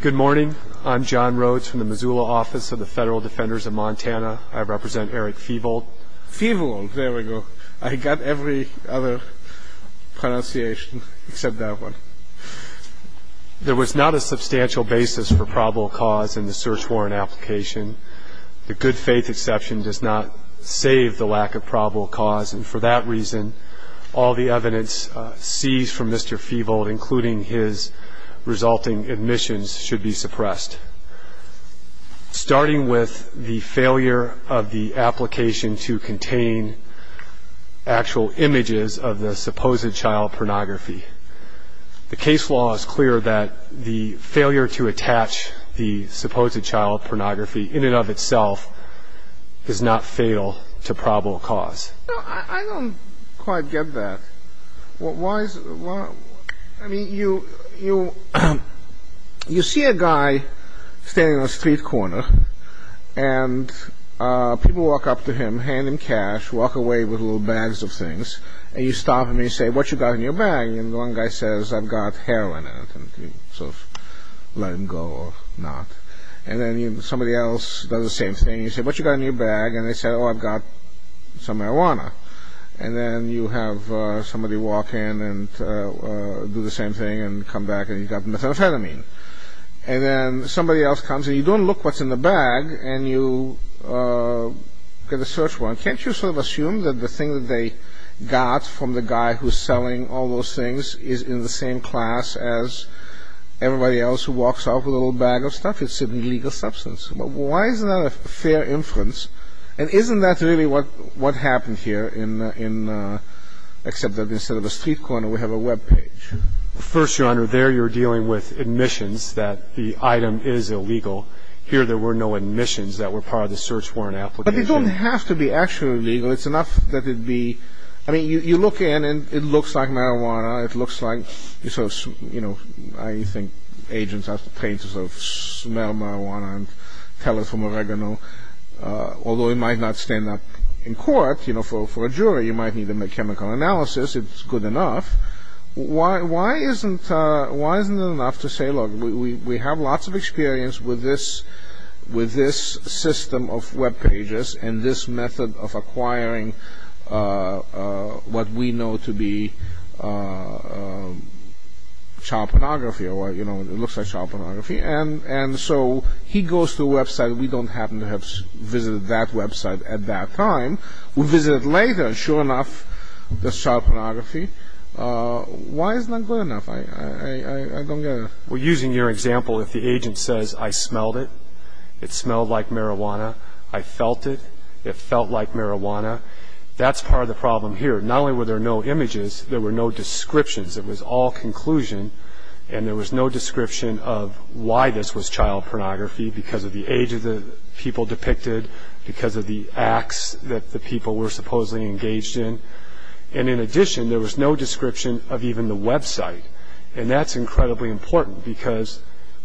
Good morning. I'm John Rhodes from the Missoula Office of the Federal Defenders of Montana. I represent Eric Fevold. Fevold. There we go. I got every other pronunciation except that one. There was not a substantial basis for probable cause in the search warrant application. The good faith exception does not save the lack of probable cause, and for that reason, all the evidence seized from Mr. Fevold, including his resulting admissions, should be suppressed. Starting with the failure of the application to contain actual images of the supposed child pornography, the case law is clear that the failure to attach the supposed child pornography in and of itself is not fatal to probable cause. I don't quite get that. I mean, you see a guy standing on a street corner, and people walk up to him, hand him cash, walk away with little bags of things, and you stop and you say, what you got in your bag? And one guy says, I've got heroin in it, and you sort of let him go or not. And then somebody else does the same thing. You say, what you got in your bag? And they say, oh, I've got some marijuana. And then you have somebody walk in and do the same thing and come back and you've got methamphetamine. And then somebody else comes, and you don't look what's in the bag, and you get a search warrant. Can't you sort of assume that the thing that they got from the guy who's selling all those things is in the same class as everybody else who walks off with a little bag of stuff? I mean, you look at certain legal substance. Why is that a fair inference? And isn't that really what happened here, except that instead of a street corner, we have a Web page? First, Your Honor, there you're dealing with admissions that the item is illegal. Here there were no admissions that were part of the search warrant application. But they don't have to be actually legal. It's enough that it be – I mean, you look in, and it looks like marijuana. It looks like, you know, I think agents are trained to sort of smell marijuana and tell it's from oregano. Although it might not stand up in court. You know, for a jury, you might need to make chemical analysis. It's good enough. Why isn't it enough to say, look, we have lots of experience with this system of Web pages and this method of acquiring what we know to be child pornography, or, you know, it looks like child pornography. And so he goes to a Web site. We don't happen to have visited that Web site at that time. We visited it later, and sure enough, there's child pornography. Why is it not good enough? I don't get it. Well, using your example, if the agent says, I smelled it, it smelled like marijuana, I felt it, it felt like marijuana, that's part of the problem here. Not only were there no images, there were no descriptions. It was all conclusion, and there was no description of why this was child pornography because of the age of the people depicted, because of the acts that the people were supposedly engaged in. And in addition, there was no description of even the Web site. And that's incredibly important because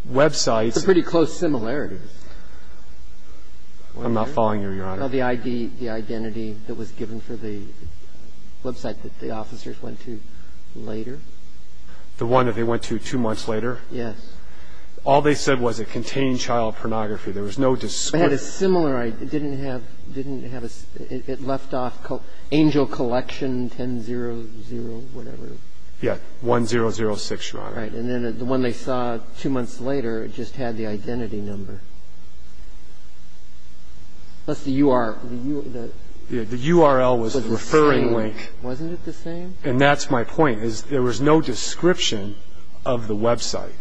Web sites – I'm not following you, Your Honor. Well, the ID, the identity that was given for the Web site that the officers went to later. The one that they went to two months later? Yes. All they said was it contained child pornography. There was no description. It had a similar – it didn't have – it didn't have a – it left off angel collection 10-0-0, whatever. Yeah, 1-0-0-6, Your Honor. Right. And then the one they saw two months later, it just had the identity number. What's the URL? The URL was the referring link. Wasn't it the same? And that's my point, is there was no description of the Web site.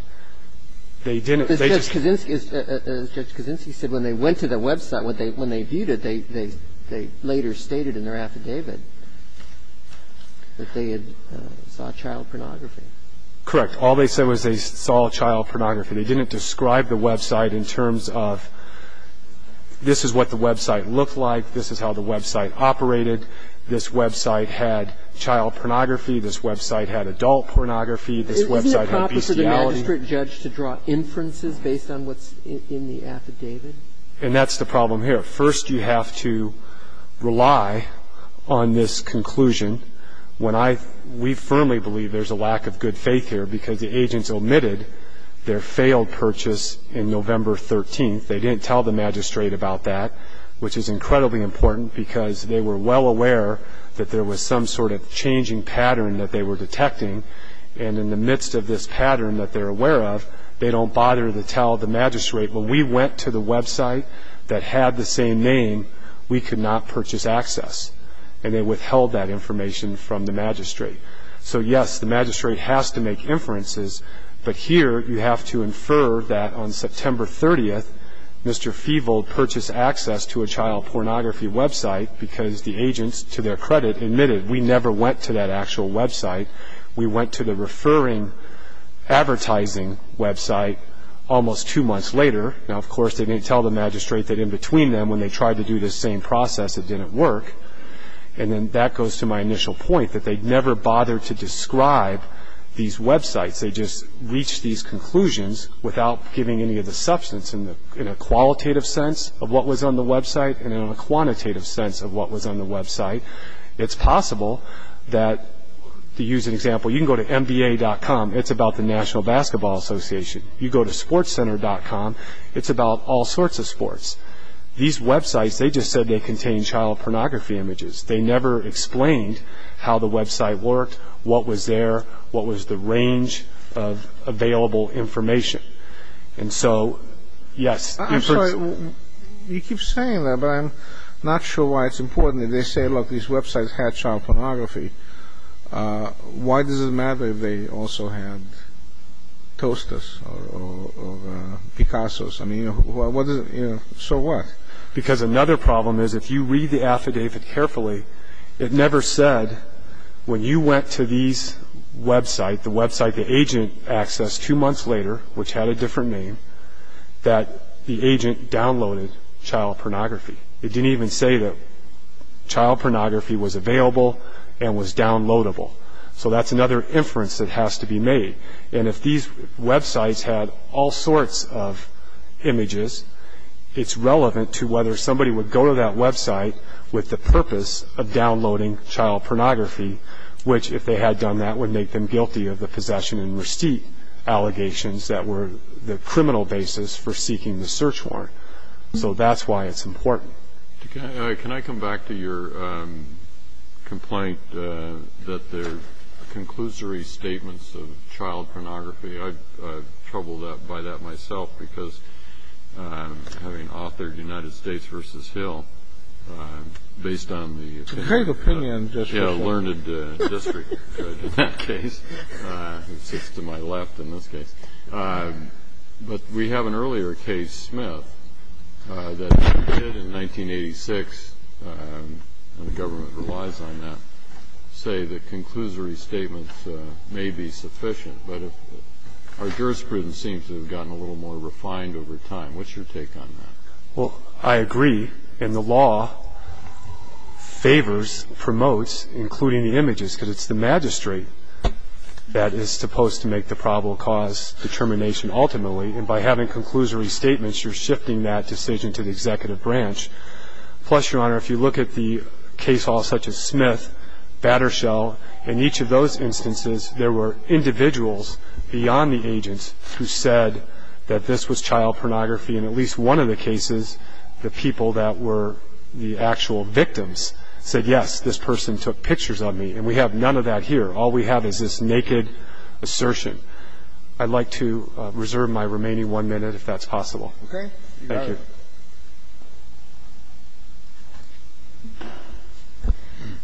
They didn't – they just – Judge Kaczynski said when they went to the Web site, when they viewed it, they later stated in their affidavit that they had saw child pornography. Correct. All they said was they saw child pornography. They didn't describe the Web site in terms of this is what the Web site looked like, this is how the Web site operated, this Web site had child pornography, this Web site had adult pornography, this Web site had bestiality. Isn't it proper for the magistrate judge to draw inferences based on what's in the affidavit? And that's the problem here. First, you have to rely on this conclusion. When I – we firmly believe there's a lack of good faith here because the agents omitted their failed purchase in November 13th. They didn't tell the magistrate about that, which is incredibly important because they were well aware that there was some sort of changing pattern that they were detecting, and in the midst of this pattern that they're aware of, they don't bother to tell the magistrate. When we went to the Web site that had the same name, we could not purchase access, and they withheld that information from the magistrate. So, yes, the magistrate has to make inferences, but here you have to infer that on September 30th, Mr. Feevold purchased access to a child pornography Web site because the agents, to their credit, admitted we never went to that actual Web site. We went to the referring advertising Web site almost two months later. Now, of course, they didn't tell the magistrate that in between them, when they tried to do this same process, it didn't work, and then that goes to my initial point that they never bothered to describe these Web sites. They just reached these conclusions without giving any of the substance in a qualitative sense of what was on the Web site and in a quantitative sense of what was on the Web site. It's possible that, to use an example, you can go to mba.com. It's about the National Basketball Association. It's about all sorts of sports. These Web sites, they just said they contained child pornography images. They never explained how the Web site worked, what was there, what was the range of available information. And so, yes. I'm sorry. You keep saying that, but I'm not sure why it's important that they say, look, these Web sites had child pornography. Why does it matter if they also had Toasters or Picassos? So what? Because another problem is if you read the affidavit carefully, it never said when you went to these Web sites, the Web site the agent accessed two months later, which had a different name, that the agent downloaded child pornography. It didn't even say that child pornography was available and was downloadable. So that's another inference that has to be made. And if these Web sites had all sorts of images, it's relevant to whether somebody would go to that Web site with the purpose of downloading child pornography, which if they had done that would make them guilty of the possession and receipt allegations that were the criminal basis for seeking the search warrant. So that's why it's important. Can I come back to your complaint that there are conclusory statements of child pornography? I'm troubled by that myself because having authored United States v. Hill, based on the learned district in that case, which is to my left in this case, but we have an earlier case, Smith, that did in 1986, and the government relies on that, say that conclusory statements may be sufficient. But our jurisprudence seems to have gotten a little more refined over time. What's your take on that? Well, I agree. And the law favors, promotes, including the images, because it's the magistrate that is supposed to make the probable cause determination ultimately. And by having conclusory statements, you're shifting that decision to the executive branch. Plus, Your Honor, if you look at the case hall such as Smith, Battershell, in each of those instances there were individuals beyond the agents who said that this was child pornography. And at least one of the cases the people that were the actual victims said, yes, this person took pictures of me. And we have none of that here. All we have is this naked assertion. I'd like to reserve my remaining one minute if that's possible. Okay. Thank you.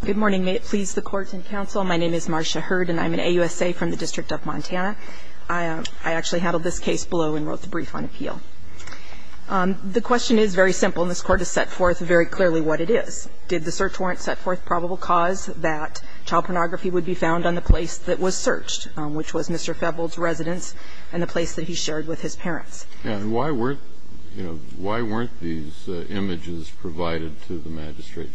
Good morning. May it please the Court and counsel, my name is Marcia Hurd, and I'm an AUSA from the District of Montana. I actually handled this case below and wrote the brief on appeal. The question is very simple, and this Court has set forth very clearly what it is. It is the search warrant that did the search warrant set forth probable cause that child pornography would be found on the place that was searched, which was Mr. Febbold's residence and the place that he shared with his parents. And why weren't, you know, why weren't these images provided to the magistrate?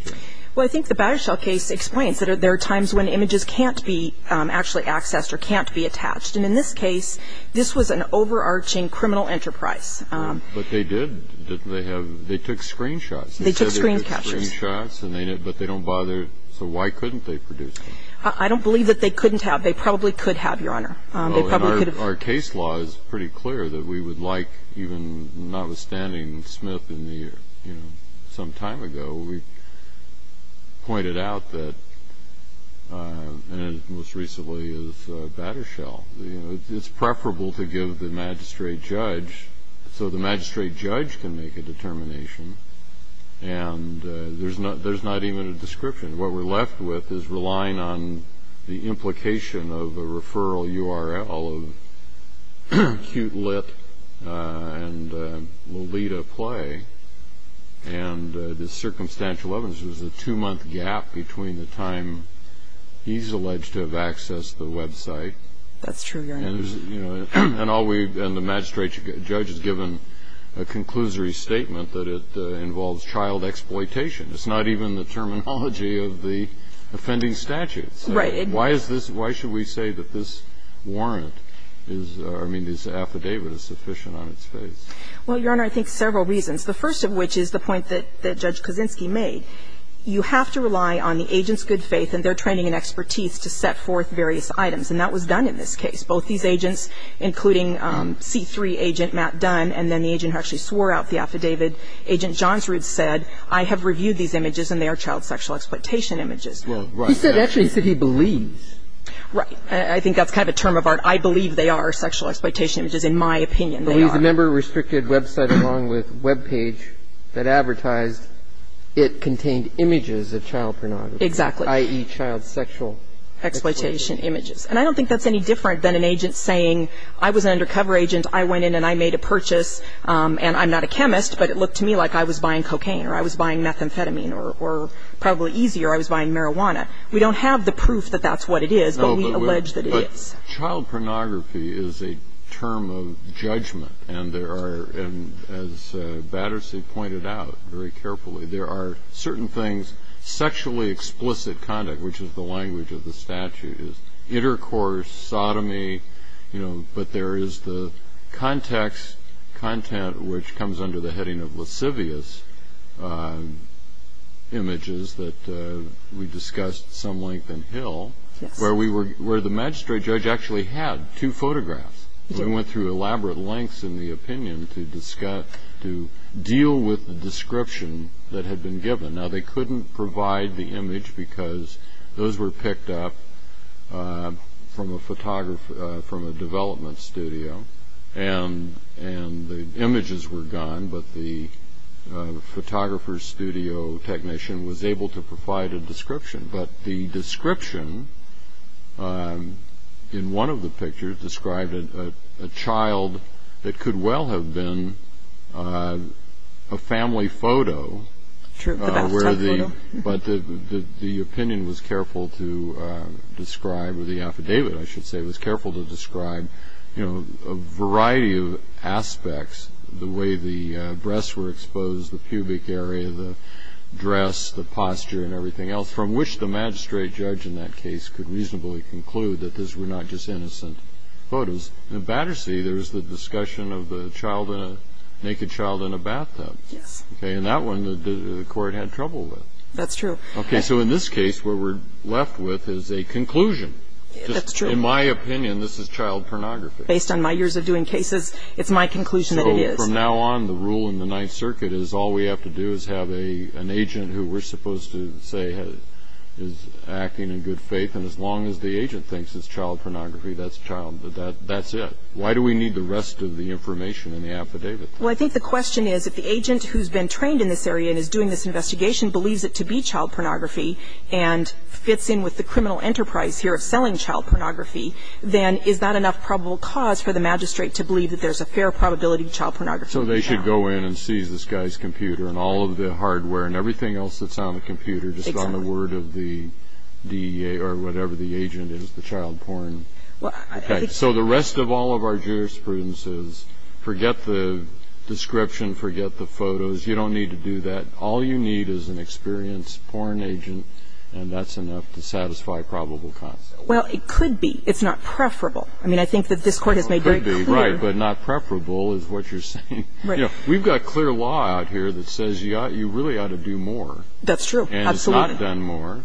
Well, I think the Battershell case explains that there are times when images can't be actually accessed or can't be attached. And in this case, this was an overarching criminal enterprise. But they did, didn't they have, they took screen shots. They took screen captures. They took screen shots, but they don't bother. So why couldn't they produce them? I don't believe that they couldn't have. They probably could have, Your Honor. They probably could have. Oh, and our case law is pretty clear that we would like, even notwithstanding Smith and the, you know, some time ago, we pointed out that, and it most recently is Battershell, you know, it's preferable to give the magistrate judge, so the magistrate judge can make a determination. And there's not even a description. What we're left with is relying on the implication of a referral URL of Cute Lit and Lolita Play. And the circumstantial evidence was a two-month gap between the time he's alleged to have accessed the website. That's true, Your Honor. And, you know, and all we've, and the magistrate judge has given a conclusory statement that it involves child exploitation. It's not even the terminology of the offending statute. Right. Why is this, why should we say that this warrant is, I mean, this affidavit is sufficient on its face? Well, Your Honor, I think several reasons. The first of which is the point that Judge Kaczynski made. You have to rely on the agent's good faith and their training and expertise to set forth various items. And that was done in this case. Both these agents, including C3 agent Matt Dunn, and then the agent who actually swore out the affidavit, Agent Johnsrud said, I have reviewed these images and they are child sexual exploitation images. Well, right. He said, actually, he said he believes. Right. I think that's kind of a term of art. I believe they are sexual exploitation images, in my opinion, they are. But he's a member of a restricted website along with a webpage that advertised it contained images of child pornography. Exactly. I.e., child sexual exploitation images. And I don't think that's any different than an agent saying, I was an undercover agent, I went in and I made a purchase, and I'm not a chemist, but it looked to me like I was buying cocaine or I was buying methamphetamine, or probably easier, I was buying marijuana. We don't have the proof that that's what it is, but we allege that it is. No, but child pornography is a term of judgment. And there are, as Battersea pointed out very carefully, there are certain things sexually explicit conduct, which is the language of the statute, is intercourse, sodomy, but there is the context content which comes under the heading of lascivious images that we discussed some length in Hill, where the magistrate judge actually had two photographs. They went through elaborate lengths in the opinion to discuss, to deal with the description that had been given. Now they couldn't provide the image because those were picked up from a development studio, and the images were gone, but the photographer, studio technician, was able to provide a description. But the description in one of the pictures described a child that could well have been a family photo. True, a bathtub photo. But the opinion was careful to describe, or the affidavit, I should say, was careful to describe a variety of aspects, the way the breasts were exposed, the pubic area, the dress, the posture, and everything else, from which the magistrate judge in that case could reasonably conclude that these were not just innocent photos. In Battersea, there is the discussion of the naked child in a bathtub. Yes. Okay. In that one, the court had trouble with. That's true. Okay. So in this case, what we're left with is a conclusion. That's true. In my opinion, this is child pornography. Based on my years of doing cases, it's my conclusion that it is. So from now on, the rule in the Ninth Circuit is all we have to do is have an agent who we're supposed to say is acting in good faith, and as long as the agent thinks it's child pornography, that's child, that's it. Why do we need the rest of the information in the affidavit? Well, I think the question is, if the agent who's been trained in this area and is doing this investigation believes it to be child pornography and fits in with the criminal enterprise here of selling child pornography, then is that enough probable cause for the magistrate to believe that there's a fair probability child pornography is child? So they should go in and seize this guy's computer and all of the hardware and everything else that's on the computer, just on the word of the DEA or whatever the agent is, the child porn. Well, I think so. So the rest of all of our jurisprudence is forget the description, forget the photos. You don't need to do that. All you need is an experienced porn agent, and that's enough to satisfy probable cause. Well, it could be. It's not preferable. I mean, I think that this Court has made very clear. It could be, right, but not preferable is what you're saying. Right. We've got clear law out here that says you really ought to do more. That's true. Absolutely. And it's not done more.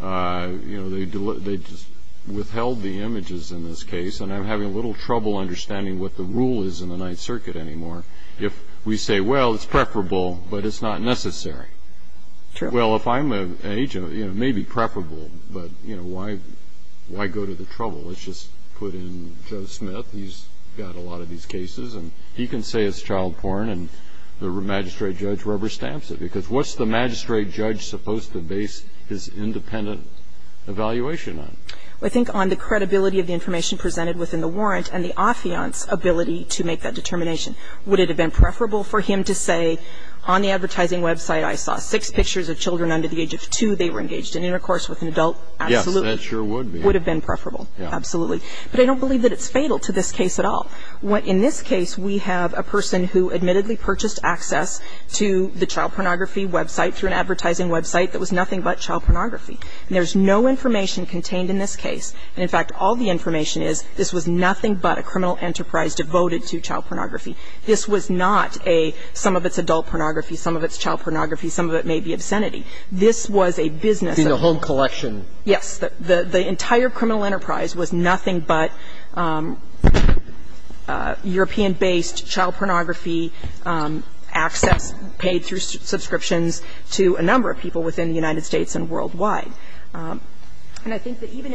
You know, they just withheld the images in this case, and I'm having a little trouble understanding what the rule is in the Ninth Circuit anymore. If we say, well, it's preferable, but it's not necessary. True. Well, if I'm an agent, it may be preferable, but, you know, why go to the trouble? Let's just put in Joe Smith. He's got a lot of these cases, and he can say it's child porn, and the magistrate judge rubber stamps it because what's the magistrate judge supposed to base his independent evaluation on? I think on the credibility of the information presented within the warrant and the affiant's ability to make that determination. Would it have been preferable for him to say, on the advertising website I saw six pictures of children under the age of two. They were engaged in intercourse with an adult. Absolutely. Yes, that sure would be. Would have been preferable. Absolutely. But I don't believe that it's fatal to this case at all. In this case, we have a person who admittedly purchased access to the child pornography website through an advertising website that was nothing but child pornography. And there's no information contained in this case. And, in fact, all the information is this was nothing but a criminal enterprise devoted to child pornography. This was not a some of it's adult pornography, some of it's child pornography, some of it may be obscenity. This was a business of the home collection. Yes. The entire criminal enterprise was nothing but European-based child pornography access paid through subscriptions to a number of people within the United States and worldwide. And I think that even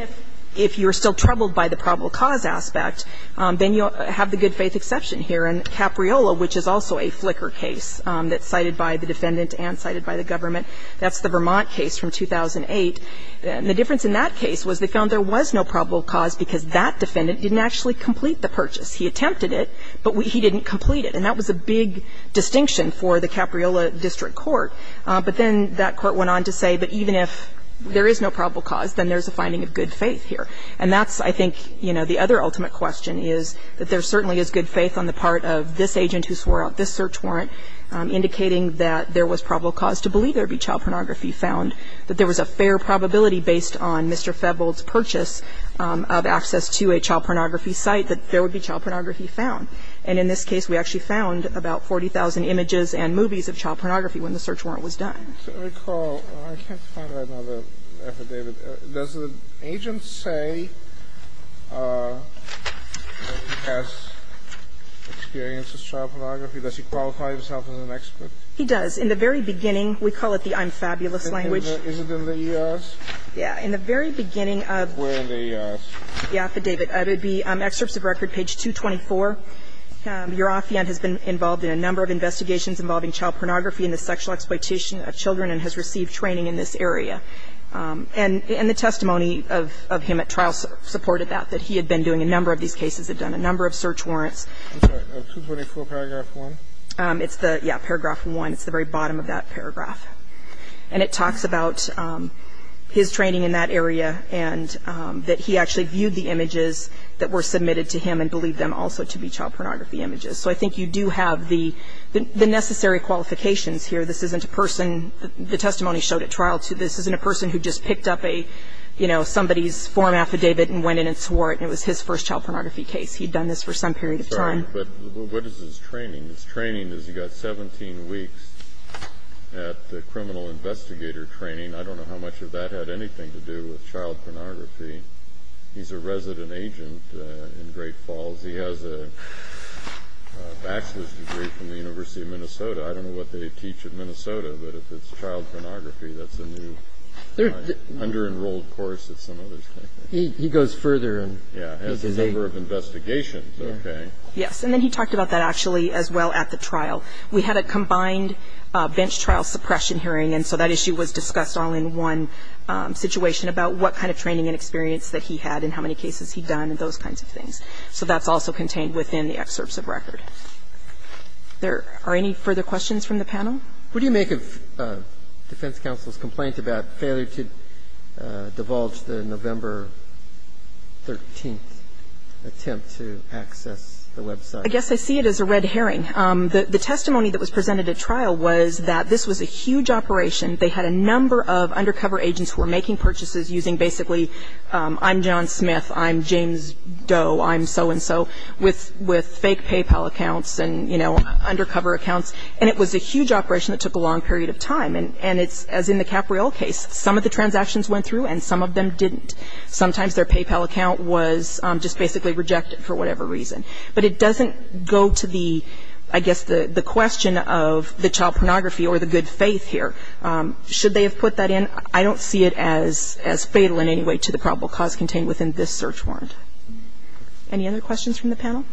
if you're still troubled by the probable cause aspect, then you have the good faith exception here. And Capriolo, which is also a Flickr case that's cited by the defendant and cited by the government, that's the Vermont case from 2008. And the difference in that case was they found there was no probable cause because that defendant didn't actually complete the purchase. He attempted it, but he didn't complete it. And that was a big distinction for the Capriolo district court. But then that court went on to say, but even if there is no probable cause, then there's a finding of good faith here. And that's, I think, you know, the other ultimate question is that there certainly is good faith on the part of this agent who swore out this search warrant indicating that there was probable cause to believe there would be child pornography found, that there was a fair probability based on Mr. Febbold's purchase of access to a child pornography site that there would be child pornography found. And in this case, we actually found about 40,000 images and movies of child pornography when the search warrant was done. I can't recall. I can't find another affidavit. Does the agent say that he has experience with child pornography? Does he qualify himself as an expert? He does. In the very beginning, we call it the I'm fabulous language. Is it in the E.R.s.? Yeah. In the very beginning of the affidavit, it would be excerpts of record, page 224. Your affiant has been involved in a number of investigations involving child pornography and the sexual exploitation of children and has received training in this area. And the testimony of him at trial supported that, that he had been doing a number of these cases, had done a number of search warrants. I'm sorry. 224 paragraph 1? Yeah, paragraph 1. It's the very bottom of that paragraph. And it talks about his training in that area and that he actually viewed the images that were submitted to him and believed them also to be child pornography images. So I think you do have the necessary qualifications here. This isn't a person the testimony showed at trial. This isn't a person who just picked up a, you know, somebody's form affidavit and went in and swore it and it was his first child pornography case. He'd done this for some period of time. Sorry, but what is his training? His training is he got 17 weeks at the criminal investigator training. I don't know how much of that had anything to do with child pornography. He's a resident agent in Great Falls. He has a bachelor's degree from the University of Minnesota. I don't know what they teach at Minnesota, but if it's child pornography, that's a new under-enrolled course at some other state. He goes further. Yeah, has a number of investigations. Okay. Yes, and then he talked about that actually as well at the trial. We had a combined bench trial suppression hearing, and so that issue was discussed all in one situation about what kind of training and experience that he had and how many cases he'd done and those kinds of things. So that's also contained within the excerpts of record. There are any further questions from the panel? What do you make of defense counsel's complaint about failure to divulge the November 13th attempt to access the website? I guess I see it as a red herring. The testimony that was presented at trial was that this was a huge operation. They had a number of undercover agents who were making purchases using basically I'm John Smith, I'm James Doe, I'm so-and-so with fake PayPal accounts and, you know, undercover accounts. And it was a huge operation that took a long period of time. And it's, as in the Capriol case, some of the transactions went through and some of them didn't. Sometimes their PayPal account was just basically rejected for whatever reason. But it doesn't go to the, I guess, the question of the child pornography or the good faith here. Should they have put that in? I don't see it as fatal in any way to the probable cause contained within this search warrant. Any other questions from the panel?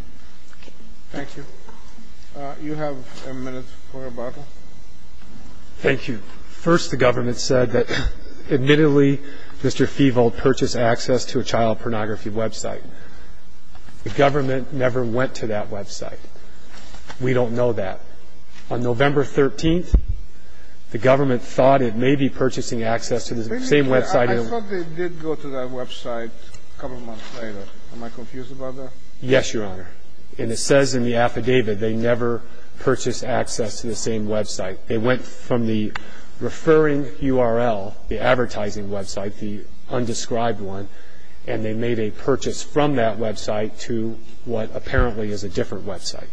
Okay. Thank you. You have a minute for rebuttal. Thank you. First, the government said that, admittedly, Mr. Feevold purchased access to a child pornography website. The government never went to that website. We don't know that. On November 13th, the government thought it may be purchasing access to the same website. I thought they did go to that website a couple of months later. Am I confused about that? Yes, Your Honor. And it says in the affidavit they never purchased access to the same website. They went from the referring URL, the advertising website, the undescribed one, and they made a purchase from that website to what apparently is a different website.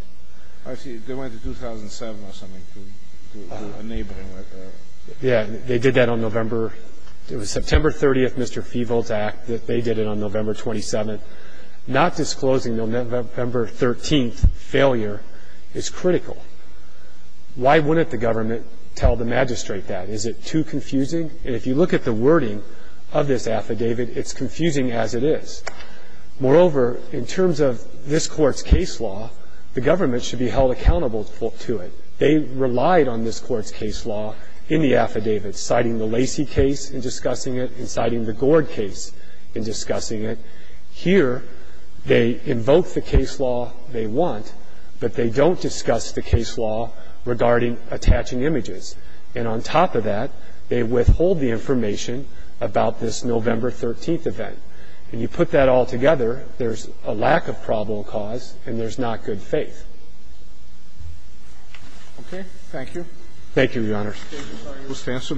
I see. They went to 2007 or something to a neighboring website. Yes. They did that on November. It was September 30th, Mr. Feevold's act that they did it on November 27th. Not disclosing the November 13th failure is critical. Why wouldn't the government tell the magistrate that? Is it too confusing? And if you look at the wording of this affidavit, it's confusing as it is. Moreover, in terms of this Court's case law, the government should be held accountable to it. They relied on this Court's case law in the affidavit, citing the Lacey case in discussing it and citing the Gord case in discussing it. Here they invoke the case law they want, but they don't discuss the case law regarding attaching images. And on top of that, they withhold the information about this November 13th event. And you put that all together, there's a lack of probable cause and there's not good faith. Okay. Thank you. Thank you, Your Honors. We'll stand for a minute.